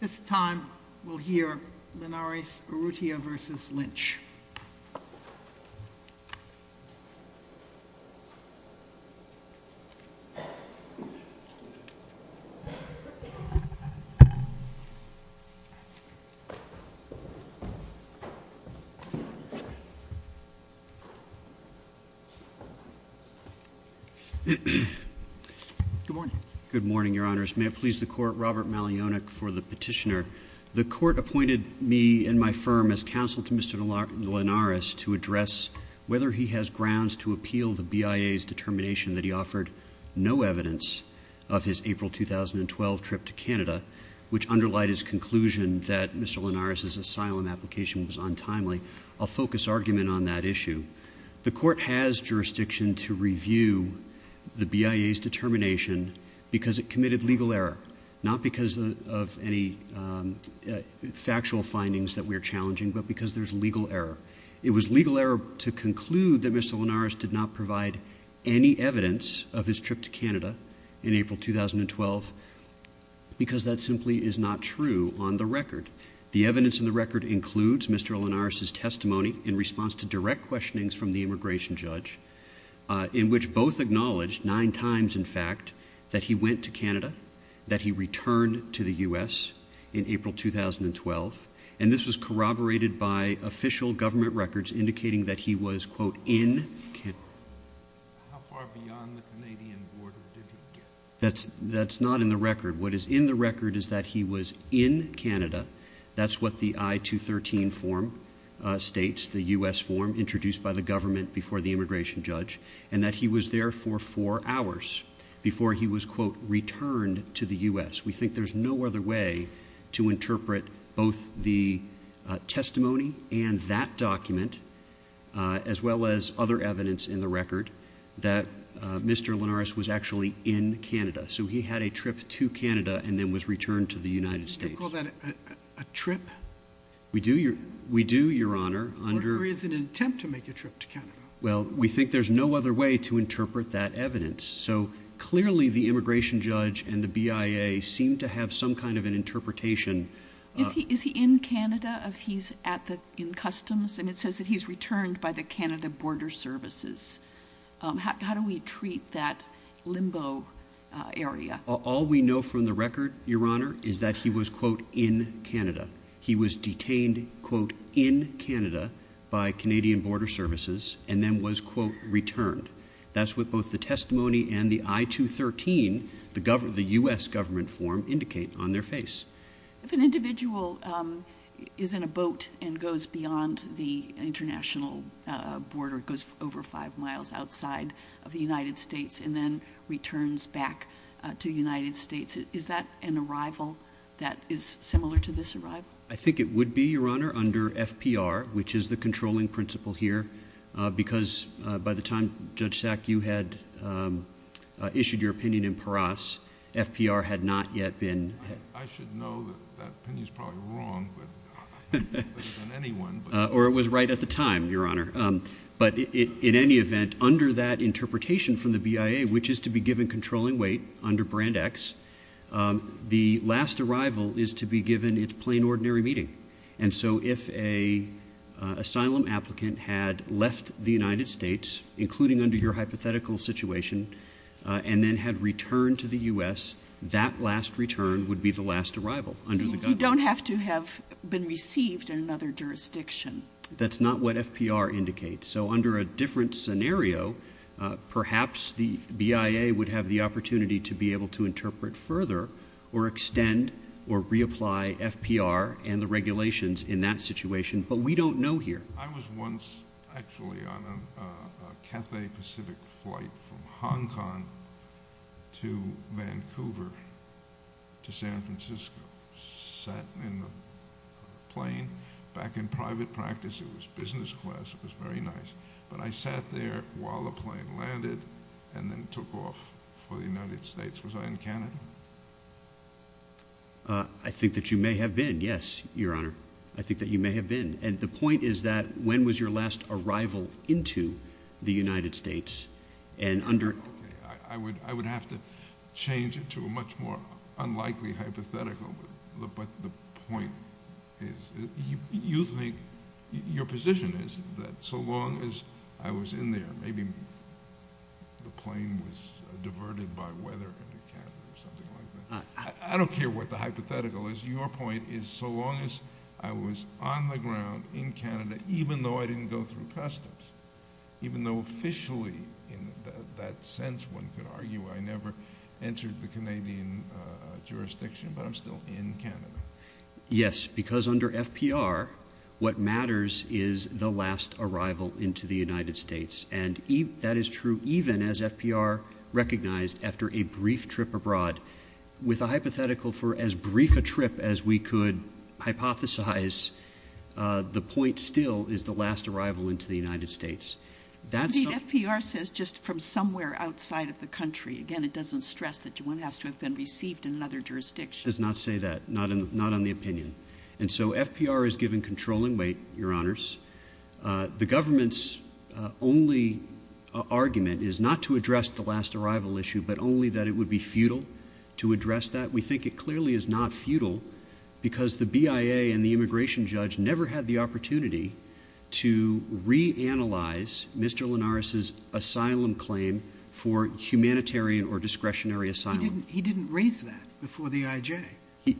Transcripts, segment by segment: This time, we'll hear Linares-Urrutia v. Lynch. Good morning, Your Honors. May it please the Court, Robert Malionik for the petitioner. The Court appointed me and my firm as counsel to Mr. Linares to address whether he has grounds to appeal the BIA's determination that he offered no evidence of his April 2012 trip to Canada, which underlied his conclusion that Mr. Linares' asylum application was untimely. I'll focus argument on that issue. The Court has jurisdiction to review the BIA's determination because it committed legal error, not because of any factual findings that we're challenging, but because there's legal error. It was legal error to conclude that Mr. Linares did not provide any evidence of his trip to Canada in April 2012 because that simply is not true on the record. The evidence in the record includes Mr. Linares' testimony in response to direct questionings from the immigration judge, in which both acknowledged, nine times in fact, that he went to Canada, that he returned to the U.S. in April 2012, and this was corroborated by official government records indicating that he was, quote, in Canada. How far beyond the Canadian border did he get? That's not in the record. What is in the record is that he was in Canada. That's what the I-213 form states, the U.S. form introduced by the government before the immigration judge, and that he was there for four hours before he was, quote, returned to the U.S. We think there's no other way to interpret both the testimony and that document, as well as other evidence in the record, that Mr. Linares was actually in Canada. So he had a trip to Canada and then was returned to the United States. Do you call that a trip? We do, Your Honor. Or is it an attempt to make a trip to Canada? Well, we think there's no other way to interpret that evidence. So, clearly, the immigration judge and the BIA seem to have some kind of an interpretation. Is he in Canada if he's in customs and it says that he's returned by the Canada Border Services? How do we treat that limbo area? All we know from the record, Your Honor, is that he was, quote, in Canada. He was detained, quote, in Canada by Canadian Border Services and then was, quote, returned. That's what both the testimony and the I-213, the U.S. government form, indicate on their face. If an individual is in a boat and goes beyond the international border, goes over five miles outside of the United States and then returns back to the United States, is that an arrival that is similar to this arrival? I think it would be, Your Honor, under FPR, which is the controlling principle here, because by the time, Judge Sack, you had issued your opinion in Paras, FPR had not yet been... I should know that that opinion is probably wrong, but better than anyone... Or it was right at the time, Your Honor. But in any event, under that interpretation from the BIA, which is to be given controlling weight under Brand X, the last arrival is to be given its plain, ordinary meeting. And so if an asylum applicant had left the United States, including under your hypothetical situation, and then had returned to the U.S., that last return would be the last arrival under the government. You don't have to have been received in another jurisdiction. That's not what FPR indicates. So under a different scenario, perhaps the BIA would have the opportunity to be able to interpret further or extend or reapply FPR and the regulations in that situation, but we don't know here. I was once, actually, on a Cathay Pacific flight from Hong Kong to Vancouver to San Francisco, sat in the plane, back in private practice. It was business class. It was very nice. But I sat there while the plane landed and then took off for the United States. Was I in Canada? I think that you may have been, yes, Your Honor. I think that you may have been. And the point is that when was your last arrival into the United States? I would have to change it to a much more unlikely hypothetical, but the point is, you think your position is that so long as I was in there, maybe the plane was diverted by weather into Canada or something like that. I don't care what the hypothetical is. Your point is so long as I was on the ground in Canada, even though I didn't go through customs, even though officially in that sense one could argue I never entered the Canadian jurisdiction, but I'm still in Canada. Yes, because under FPR, what matters is the last arrival into the United States, and that is true even as FPR recognized after a brief trip abroad. With a hypothetical for as brief a trip as we could hypothesize, the point still is the last arrival into the United States. The FPR says just from somewhere outside of the country. Again, it doesn't stress that one has to have been received in another jurisdiction. It does not say that, not on the opinion. And so FPR has given controlling weight, Your Honors. The government's only argument is not to address the last arrival issue, but only that it would be futile to address that. We think it clearly is not futile because the BIA and the immigration judge never had the opportunity to reanalyze Mr. Linares' asylum claim for humanitarian or discretionary asylum. He didn't raise that before the IJ.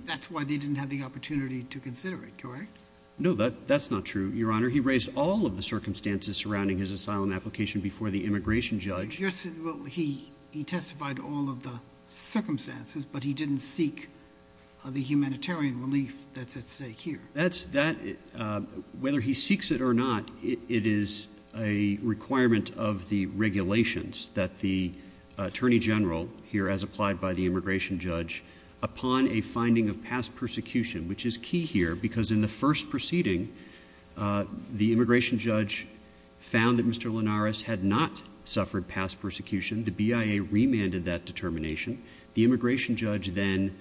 That's why they didn't have the opportunity to consider it, correct? No, that's not true, Your Honor. He raised all of the circumstances surrounding his asylum application before the immigration judge. He testified all of the circumstances, but he didn't seek the humanitarian relief that's at stake here. Whether he seeks it or not, it is a requirement of the regulations that the attorney general, here as applied by the immigration judge, upon a finding of past persecution, which is key here because in the first proceeding, the immigration judge found that Mr. Linares had not suffered past persecution. The BIA remanded that determination. The immigration judge then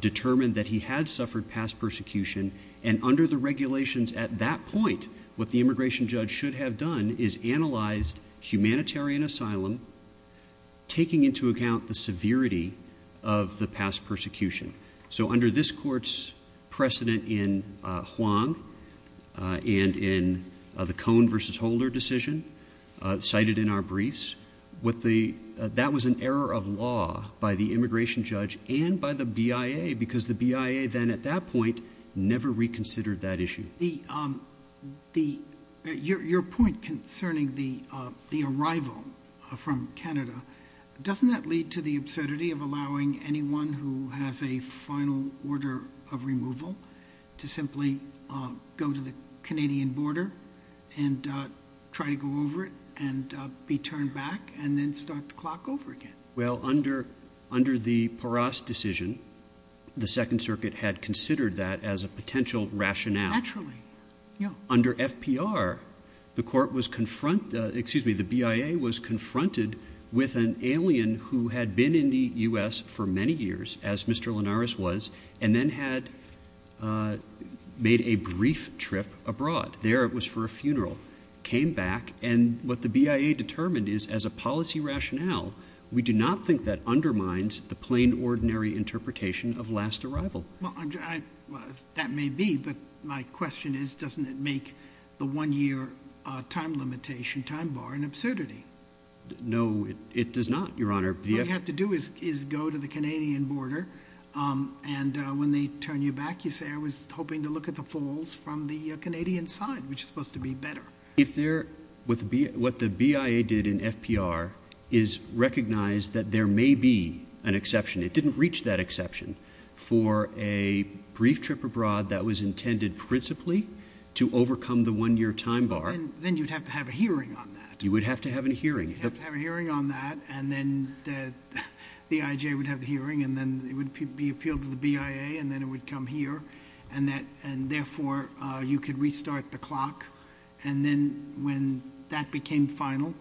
determined that he had suffered past persecution, and under the regulations at that point, what the immigration judge should have done is analyzed humanitarian asylum, taking into account the severity of the past persecution. So under this court's precedent in Huang and in the Cohn v. Holder decision cited in our briefs, that was an error of law by the immigration judge and by the BIA because the BIA then at that point never reconsidered that issue. Your point concerning the arrival from Canada, doesn't that lead to the absurdity of allowing anyone who has a final order of removal to simply go to the Canadian border and try to go over it and be turned back and then start to clock over again? Well, under the Porras decision, the Second Circuit had considered that as a potential rationale. Naturally. Under FPR, the BIA was confronted with an alien who had been in the U.S. for many years, as Mr. Linares was, and then had made a brief trip abroad. There it was for a funeral, came back, and what the BIA determined is as a policy rationale, we do not think that undermines the plain, ordinary interpretation of last arrival. Well, that may be, but my question is, doesn't it make the one-year time limitation, time bar, an absurdity? No, it does not, Your Honor. All you have to do is go to the Canadian border, and when they turn you back, you say, I was hoping to look at the falls from the Canadian side, which is supposed to be better. What the BIA did in FPR is recognize that there may be an exception. It didn't reach that exception for a brief trip abroad that was intended principally to overcome the one-year time bar. Then you'd have to have a hearing on that. You would have to have a hearing. You'd have to have a hearing on that, and then the IJ would have the hearing, and then it would be appealed to the BIA, and then it would come here, and therefore you could restart the clock, and then when that became final,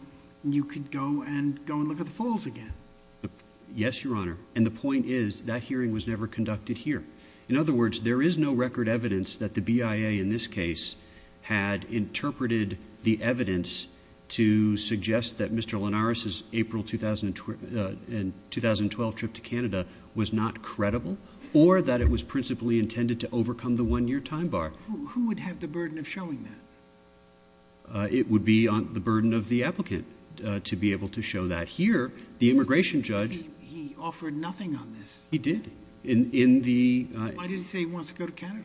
you could go and look at the falls again. Yes, Your Honor, and the point is that hearing was never conducted here. In other words, there is no record evidence that the BIA in this case had interpreted the evidence to suggest that Mr. Linares' April 2012 trip to Canada was not credible or that it was principally intended to overcome the one-year time bar. Who would have the burden of showing that? It would be the burden of the applicant to be able to show that. Here, the immigration judge— He offered nothing on this. He did. Why did he say he wants to go to Canada?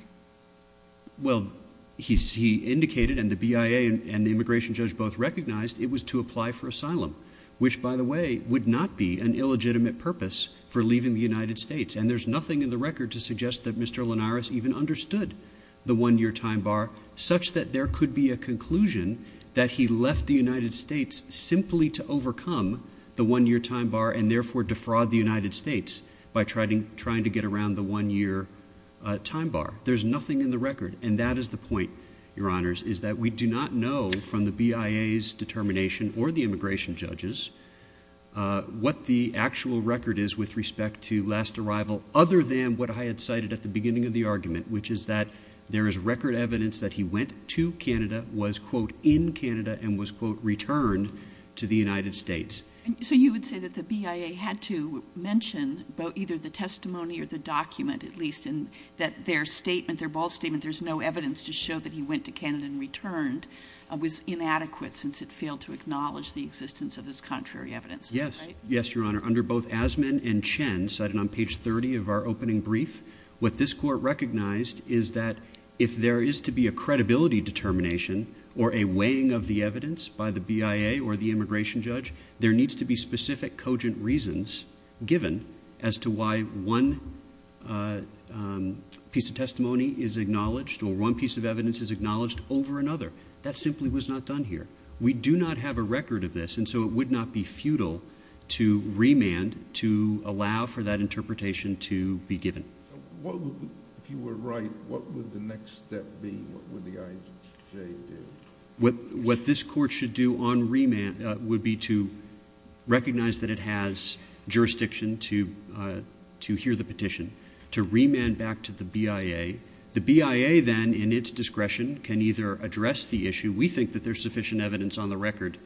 Well, he indicated, and the BIA and the immigration judge both recognized, it was to apply for asylum, which, by the way, would not be an illegitimate purpose for leaving the United States, and there's nothing in the record to suggest that Mr. Linares even understood the one-year time bar, such that there could be a conclusion that he left the United States simply to overcome the one-year time bar and therefore defraud the United States by trying to get around the one-year time bar. There's nothing in the record, and that is the point, Your Honors, is that we do not know from the BIA's determination or the immigration judge's what the actual record is with respect to last arrival, other than what I had cited at the beginning of the argument, which is that there is record evidence that he went to Canada, was, quote, in Canada, and was, quote, returned to the United States. So you would say that the BIA had to mention either the testimony or the document, at least, and that their statement, their bold statement, was inadequate since it failed to acknowledge the existence of this contrary evidence, right? Yes. Yes, Your Honor. Under both Asman and Chen, cited on page 30 of our opening brief, what this Court recognized is that if there is to be a credibility determination or a weighing of the evidence by the BIA or the immigration judge, there needs to be specific cogent reasons given as to why one piece of testimony is acknowledged or one piece of evidence is acknowledged over another. That simply was not done here. We do not have a record of this, and so it would not be futile to remand to allow for that interpretation to be given. If you were right, what would the next step be? What would the IJ do? What this Court should do on remand would be to recognize that it has jurisdiction to hear the petition, to remand back to the BIA. The BIA then, in its discretion, can either address the issue, we think that there's sufficient evidence on the record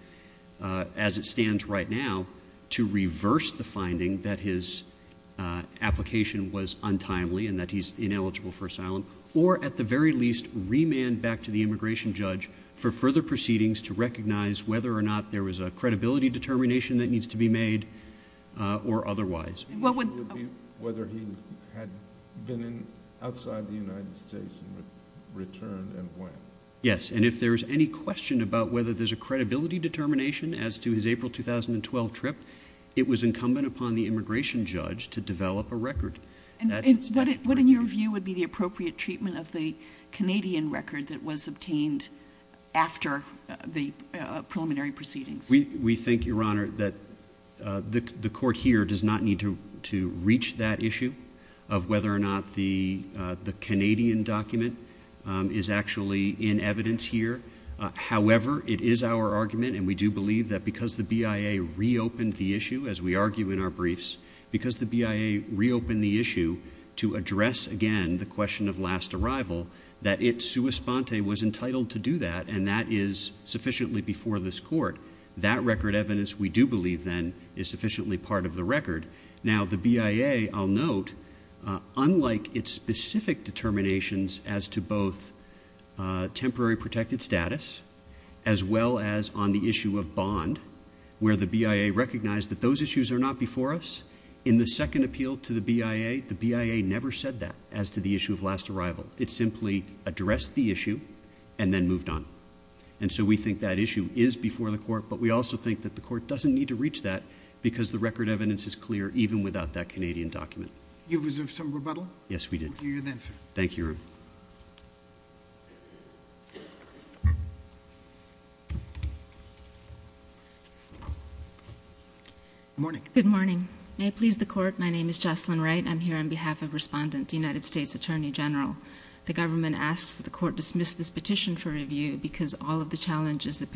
as it stands right now, to reverse the finding that his application was untimely and that he's ineligible for asylum, or at the very least remand back to the immigration judge for further proceedings to recognize whether or not there was a credibility determination that needs to be made or otherwise. Whether he had been outside the United States and returned and went. Yes, and if there's any question about whether there's a credibility determination as to his April 2012 trip, it was incumbent upon the immigration judge to develop a record. What, in your view, would be the appropriate treatment of the Canadian record that was obtained after the preliminary proceedings? We think, Your Honor, that the Court here does not need to reach that issue of whether or not the Canadian document is actually in evidence here. However, it is our argument, and we do believe that because the BIA reopened the issue, as we argue in our briefs, because the BIA reopened the issue to address again the question of last arrival, that it sua sponte was entitled to do that, and that is sufficiently before this Court. That record evidence, we do believe, then, is sufficiently part of the record. Now, the BIA, I'll note, unlike its specific determinations as to both temporary protected status as well as on the issue of bond, where the BIA recognized that those issues are not before us, in the second appeal to the BIA, the BIA never said that as to the issue of last arrival. It simply addressed the issue and then moved on. And so we think that issue is before the Court, but we also think that the Court doesn't need to reach that because the record evidence is clear even without that Canadian document. You've reserved some rebuttal? Yes, we did. We'll give you the answer. Thank you, Your Honor. Good morning. Good morning. May it please the Court, my name is Jocelyn Wright. I'm here on behalf of Respondent, United States Attorney General. The government asks that the Court dismiss this petition for review because all of the challenges the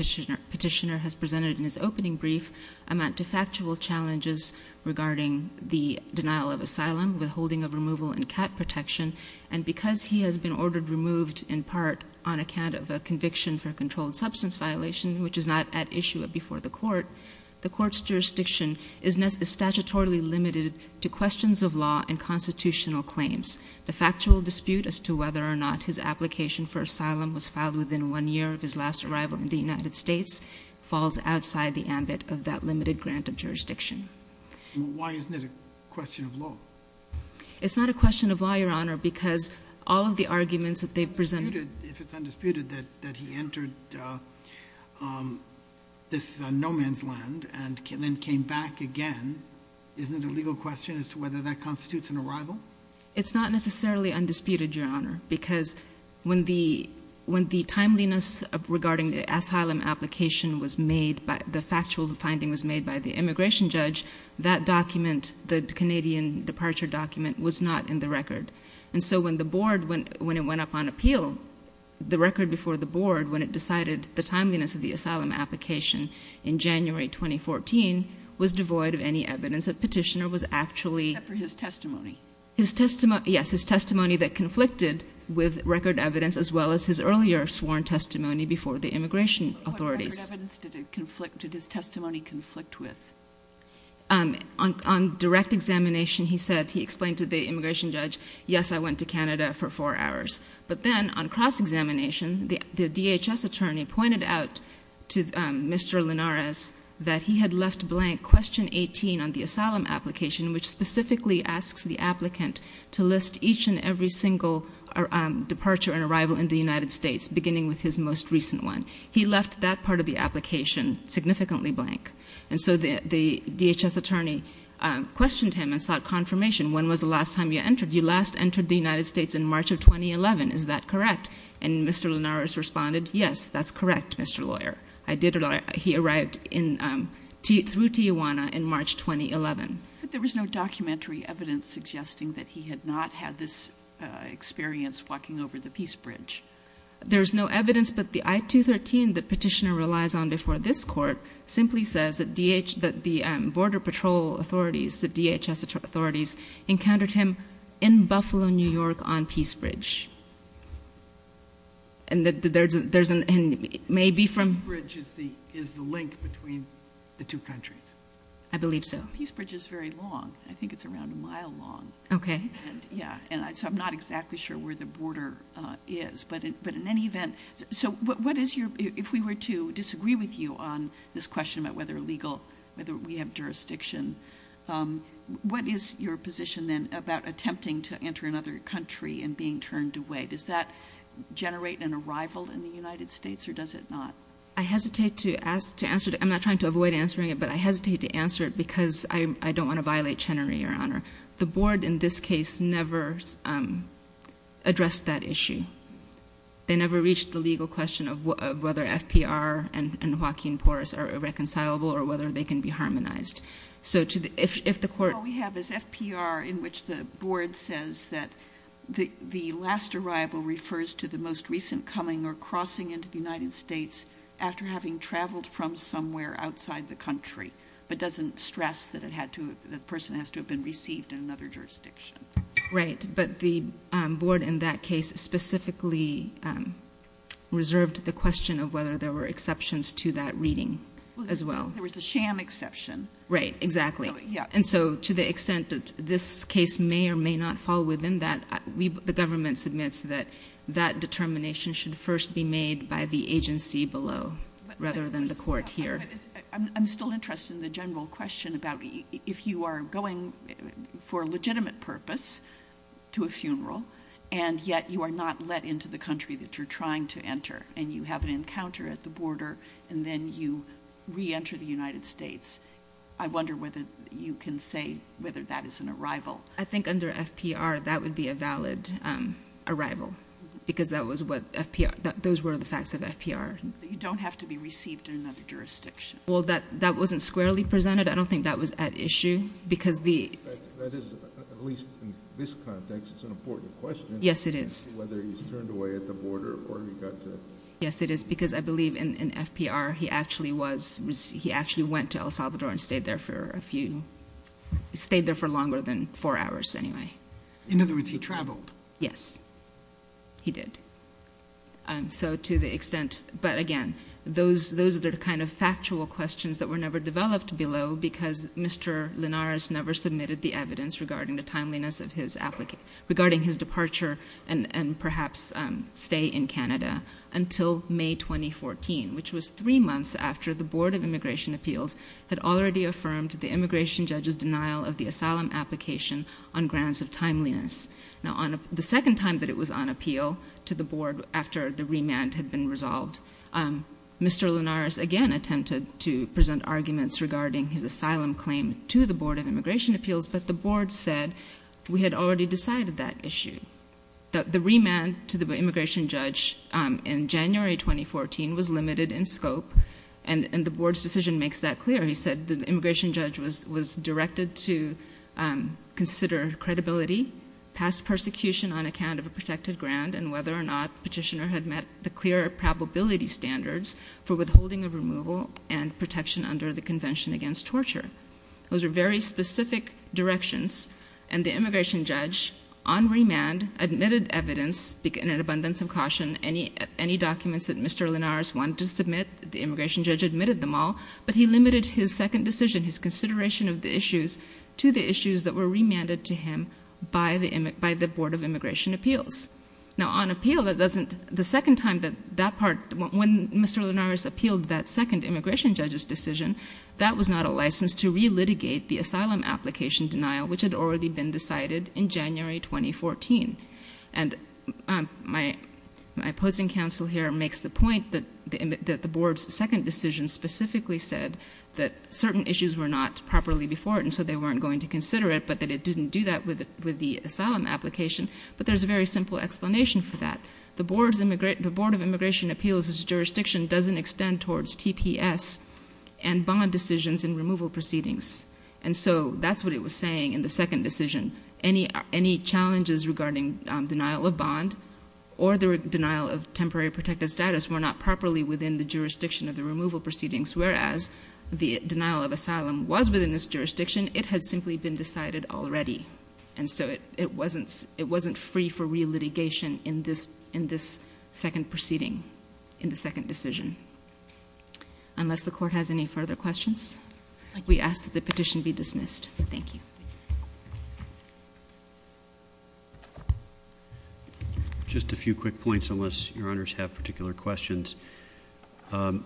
petitioner has presented in his opening brief amount to factual challenges regarding the denial of asylum, withholding of removal, and cat protection. And because he has been ordered removed in part on account of a conviction for a controlled substance violation, which is not at issue before the Court, the Court's jurisdiction is statutorily limited to questions of law and constitutional claims. The factual dispute as to whether or not his application for asylum was filed within one year of his last arrival in the United States falls outside the ambit of that limited grant of jurisdiction. Why isn't it a question of law? It's not a question of law, Your Honor, because all of the arguments that they've presented If it's undisputed that he entered this no-man's land and then came back again, isn't it a legal question as to whether that constitutes an arrival? It's not necessarily undisputed, Your Honor, because when the timeliness regarding the asylum application was made, the factual finding was made by the immigration judge, that document, the Canadian departure document, was not in the record. And so when the Board, when it went up on appeal, the record before the Board, when it decided the timeliness of the asylum application in January 2014, was devoid of any evidence that Petitioner was actually Except for his testimony. Yes, his testimony that conflicted with record evidence, as well as his earlier sworn testimony before the immigration authorities. What record evidence did his testimony conflict with? On direct examination, he said, he explained to the immigration judge, yes, I went to Canada for four hours. But then on cross-examination, the DHS attorney pointed out to Mr. Linares that he had left blank question 18 on the asylum application, which specifically asks the applicant to list each and every single departure and arrival in the United States, beginning with his most recent one. He left that part of the application significantly blank. And so the DHS attorney questioned him and sought confirmation. When was the last time you entered? You last entered the United States in March of 2011. Is that correct? And Mr. Linares responded, yes, that's correct, Mr. Lawyer. He arrived through Tijuana in March 2011. But there was no documentary evidence suggesting that he had not had this experience walking over the peace bridge. There's no evidence, but the I-213 that Petitioner relies on before this court simply says that the border patrol authorities, the DHS authorities, encountered him in Buffalo, New York, on Peace Bridge. Peace Bridge is the link between the two countries. I believe so. Peace Bridge is very long. I think it's around a mile long. Okay. So I'm not exactly sure where the border is. So if we were to disagree with you on this question about whether legal, whether we have jurisdiction, what is your position, then, about attempting to enter another country and being turned away? Does that generate an arrival in the United States or does it not? I hesitate to answer it. I'm not trying to avoid answering it, but I hesitate to answer it because I don't want to violate Chenery, Your Honor. The board, in this case, never addressed that issue. They never reached the legal question of whether FPR and Joaquin Porras are irreconcilable or whether they can be harmonized. So if the court ---- All we have is FPR in which the board says that the last arrival refers to the most recent coming or crossing into the United States after having traveled from somewhere outside the country, but doesn't stress that the person has to have been received in another jurisdiction. Right. But the board, in that case, specifically reserved the question of whether there were exceptions to that reading as well. There was the sham exception. Right. Exactly. And so to the extent that this case may or may not fall within that, the government submits that that determination should first be made by the agency below rather than the court here. I'm still interested in the general question about if you are going for a legitimate purpose to a funeral and yet you are not let into the country that you're trying to enter and you have an encounter at the border and then you reenter the United States, I wonder whether you can say whether that is an arrival. I think under FPR that would be a valid arrival because that was what FPR ---- those were the facts of FPR. You don't have to be received in another jurisdiction. Well, that wasn't squarely presented. I don't think that was at issue because the ---- At least in this context, it's an important question. Yes, it is. Whether he's turned away at the border or he got to ---- Yes, it is because I believe in FPR he actually was, he actually went to El Salvador and stayed there for a few, stayed there for longer than four hours anyway. In other words, he traveled. Yes, he did. So to the extent, but again, those are the kind of factual questions that were never developed below because Mr. Linares never submitted the evidence regarding the timeliness of his application, regarding his departure and perhaps stay in Canada until May 2014, which was three months after the Board of Immigration Appeals had already affirmed the immigration judge's denial of the asylum application on grounds of timeliness. Now, the second time that it was on appeal to the Board after the remand had been resolved, Mr. Linares again attempted to present arguments regarding his asylum claim to the Board of Immigration Appeals, but the Board said we had already decided that issue. The remand to the immigration judge in January 2014 was limited in scope and the Board's decision makes that clear. He said the immigration judge was directed to consider credibility past persecution on account of a protected ground and whether or not the petitioner had met the clear probability standards for withholding of removal and protection under the Convention Against Torture. Those are very specific directions, and the immigration judge, on remand, admitted evidence in an abundance of caution. Any documents that Mr. Linares wanted to submit, the immigration judge admitted them all, but he limited his second decision, his consideration of the issues, to the issues that were remanded to him by the Board of Immigration Appeals. Now, on appeal, the second time that that part, when Mr. Linares appealed that second immigration judge's decision, that was not a license to relitigate the asylum application denial, which had already been decided in January 2014. And my opposing counsel here makes the point that the Board's second decision specifically said that certain issues were not properly before it, and so they weren't going to consider it, but that it didn't do that with the asylum application. But there's a very simple explanation for that. The Board of Immigration Appeals' jurisdiction doesn't extend towards TPS and bond decisions in removal proceedings. And so that's what it was saying in the second decision. Any challenges regarding denial of bond or the denial of temporary protected status were not properly within the jurisdiction of the removal proceedings, whereas the denial of asylum was within this jurisdiction. It had simply been decided already, and so it wasn't free for relitigation in this second proceeding, in the second decision. Unless the Court has any further questions, we ask that the petition be dismissed. Thank you. Thank you. Just a few quick points, unless Your Honors have particular questions. My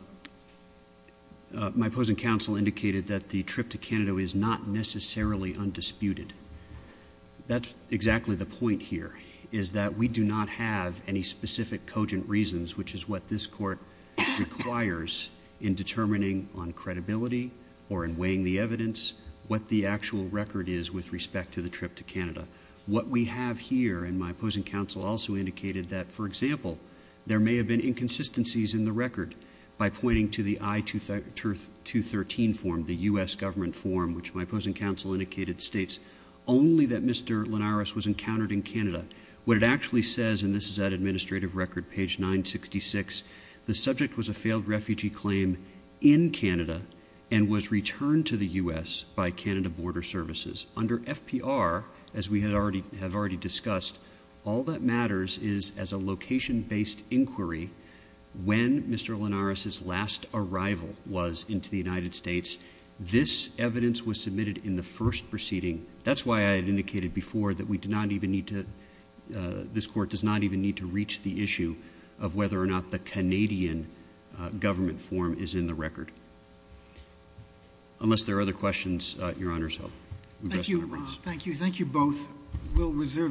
opposing counsel indicated that the trip to Canada is not necessarily undisputed. That's exactly the point here, is that we do not have any specific cogent reasons, which is what this Court requires in determining on credibility or in weighing the evidence what the actual record is with respect to the trip to Canada. What we have here, and my opposing counsel also indicated that, for example, there may have been inconsistencies in the record by pointing to the I-213 form, the U.S. Government form, which my opposing counsel indicated states only that Mr. Linares was encountered in Canada. What it actually says, and this is that administrative record, page 966, the subject was a failed refugee claim in Canada and was returned to the U.S. by Canada Border Services. Under FPR, as we have already discussed, all that matters is as a location-based inquiry, when Mr. Linares' last arrival was into the United States, this evidence was submitted in the first proceeding. That's why I had indicated before that we do not even need to... this Canadian government form is in the record. Unless there are other questions, Your Honors, I'll address them at once. Thank you. Thank you both. We'll reserve...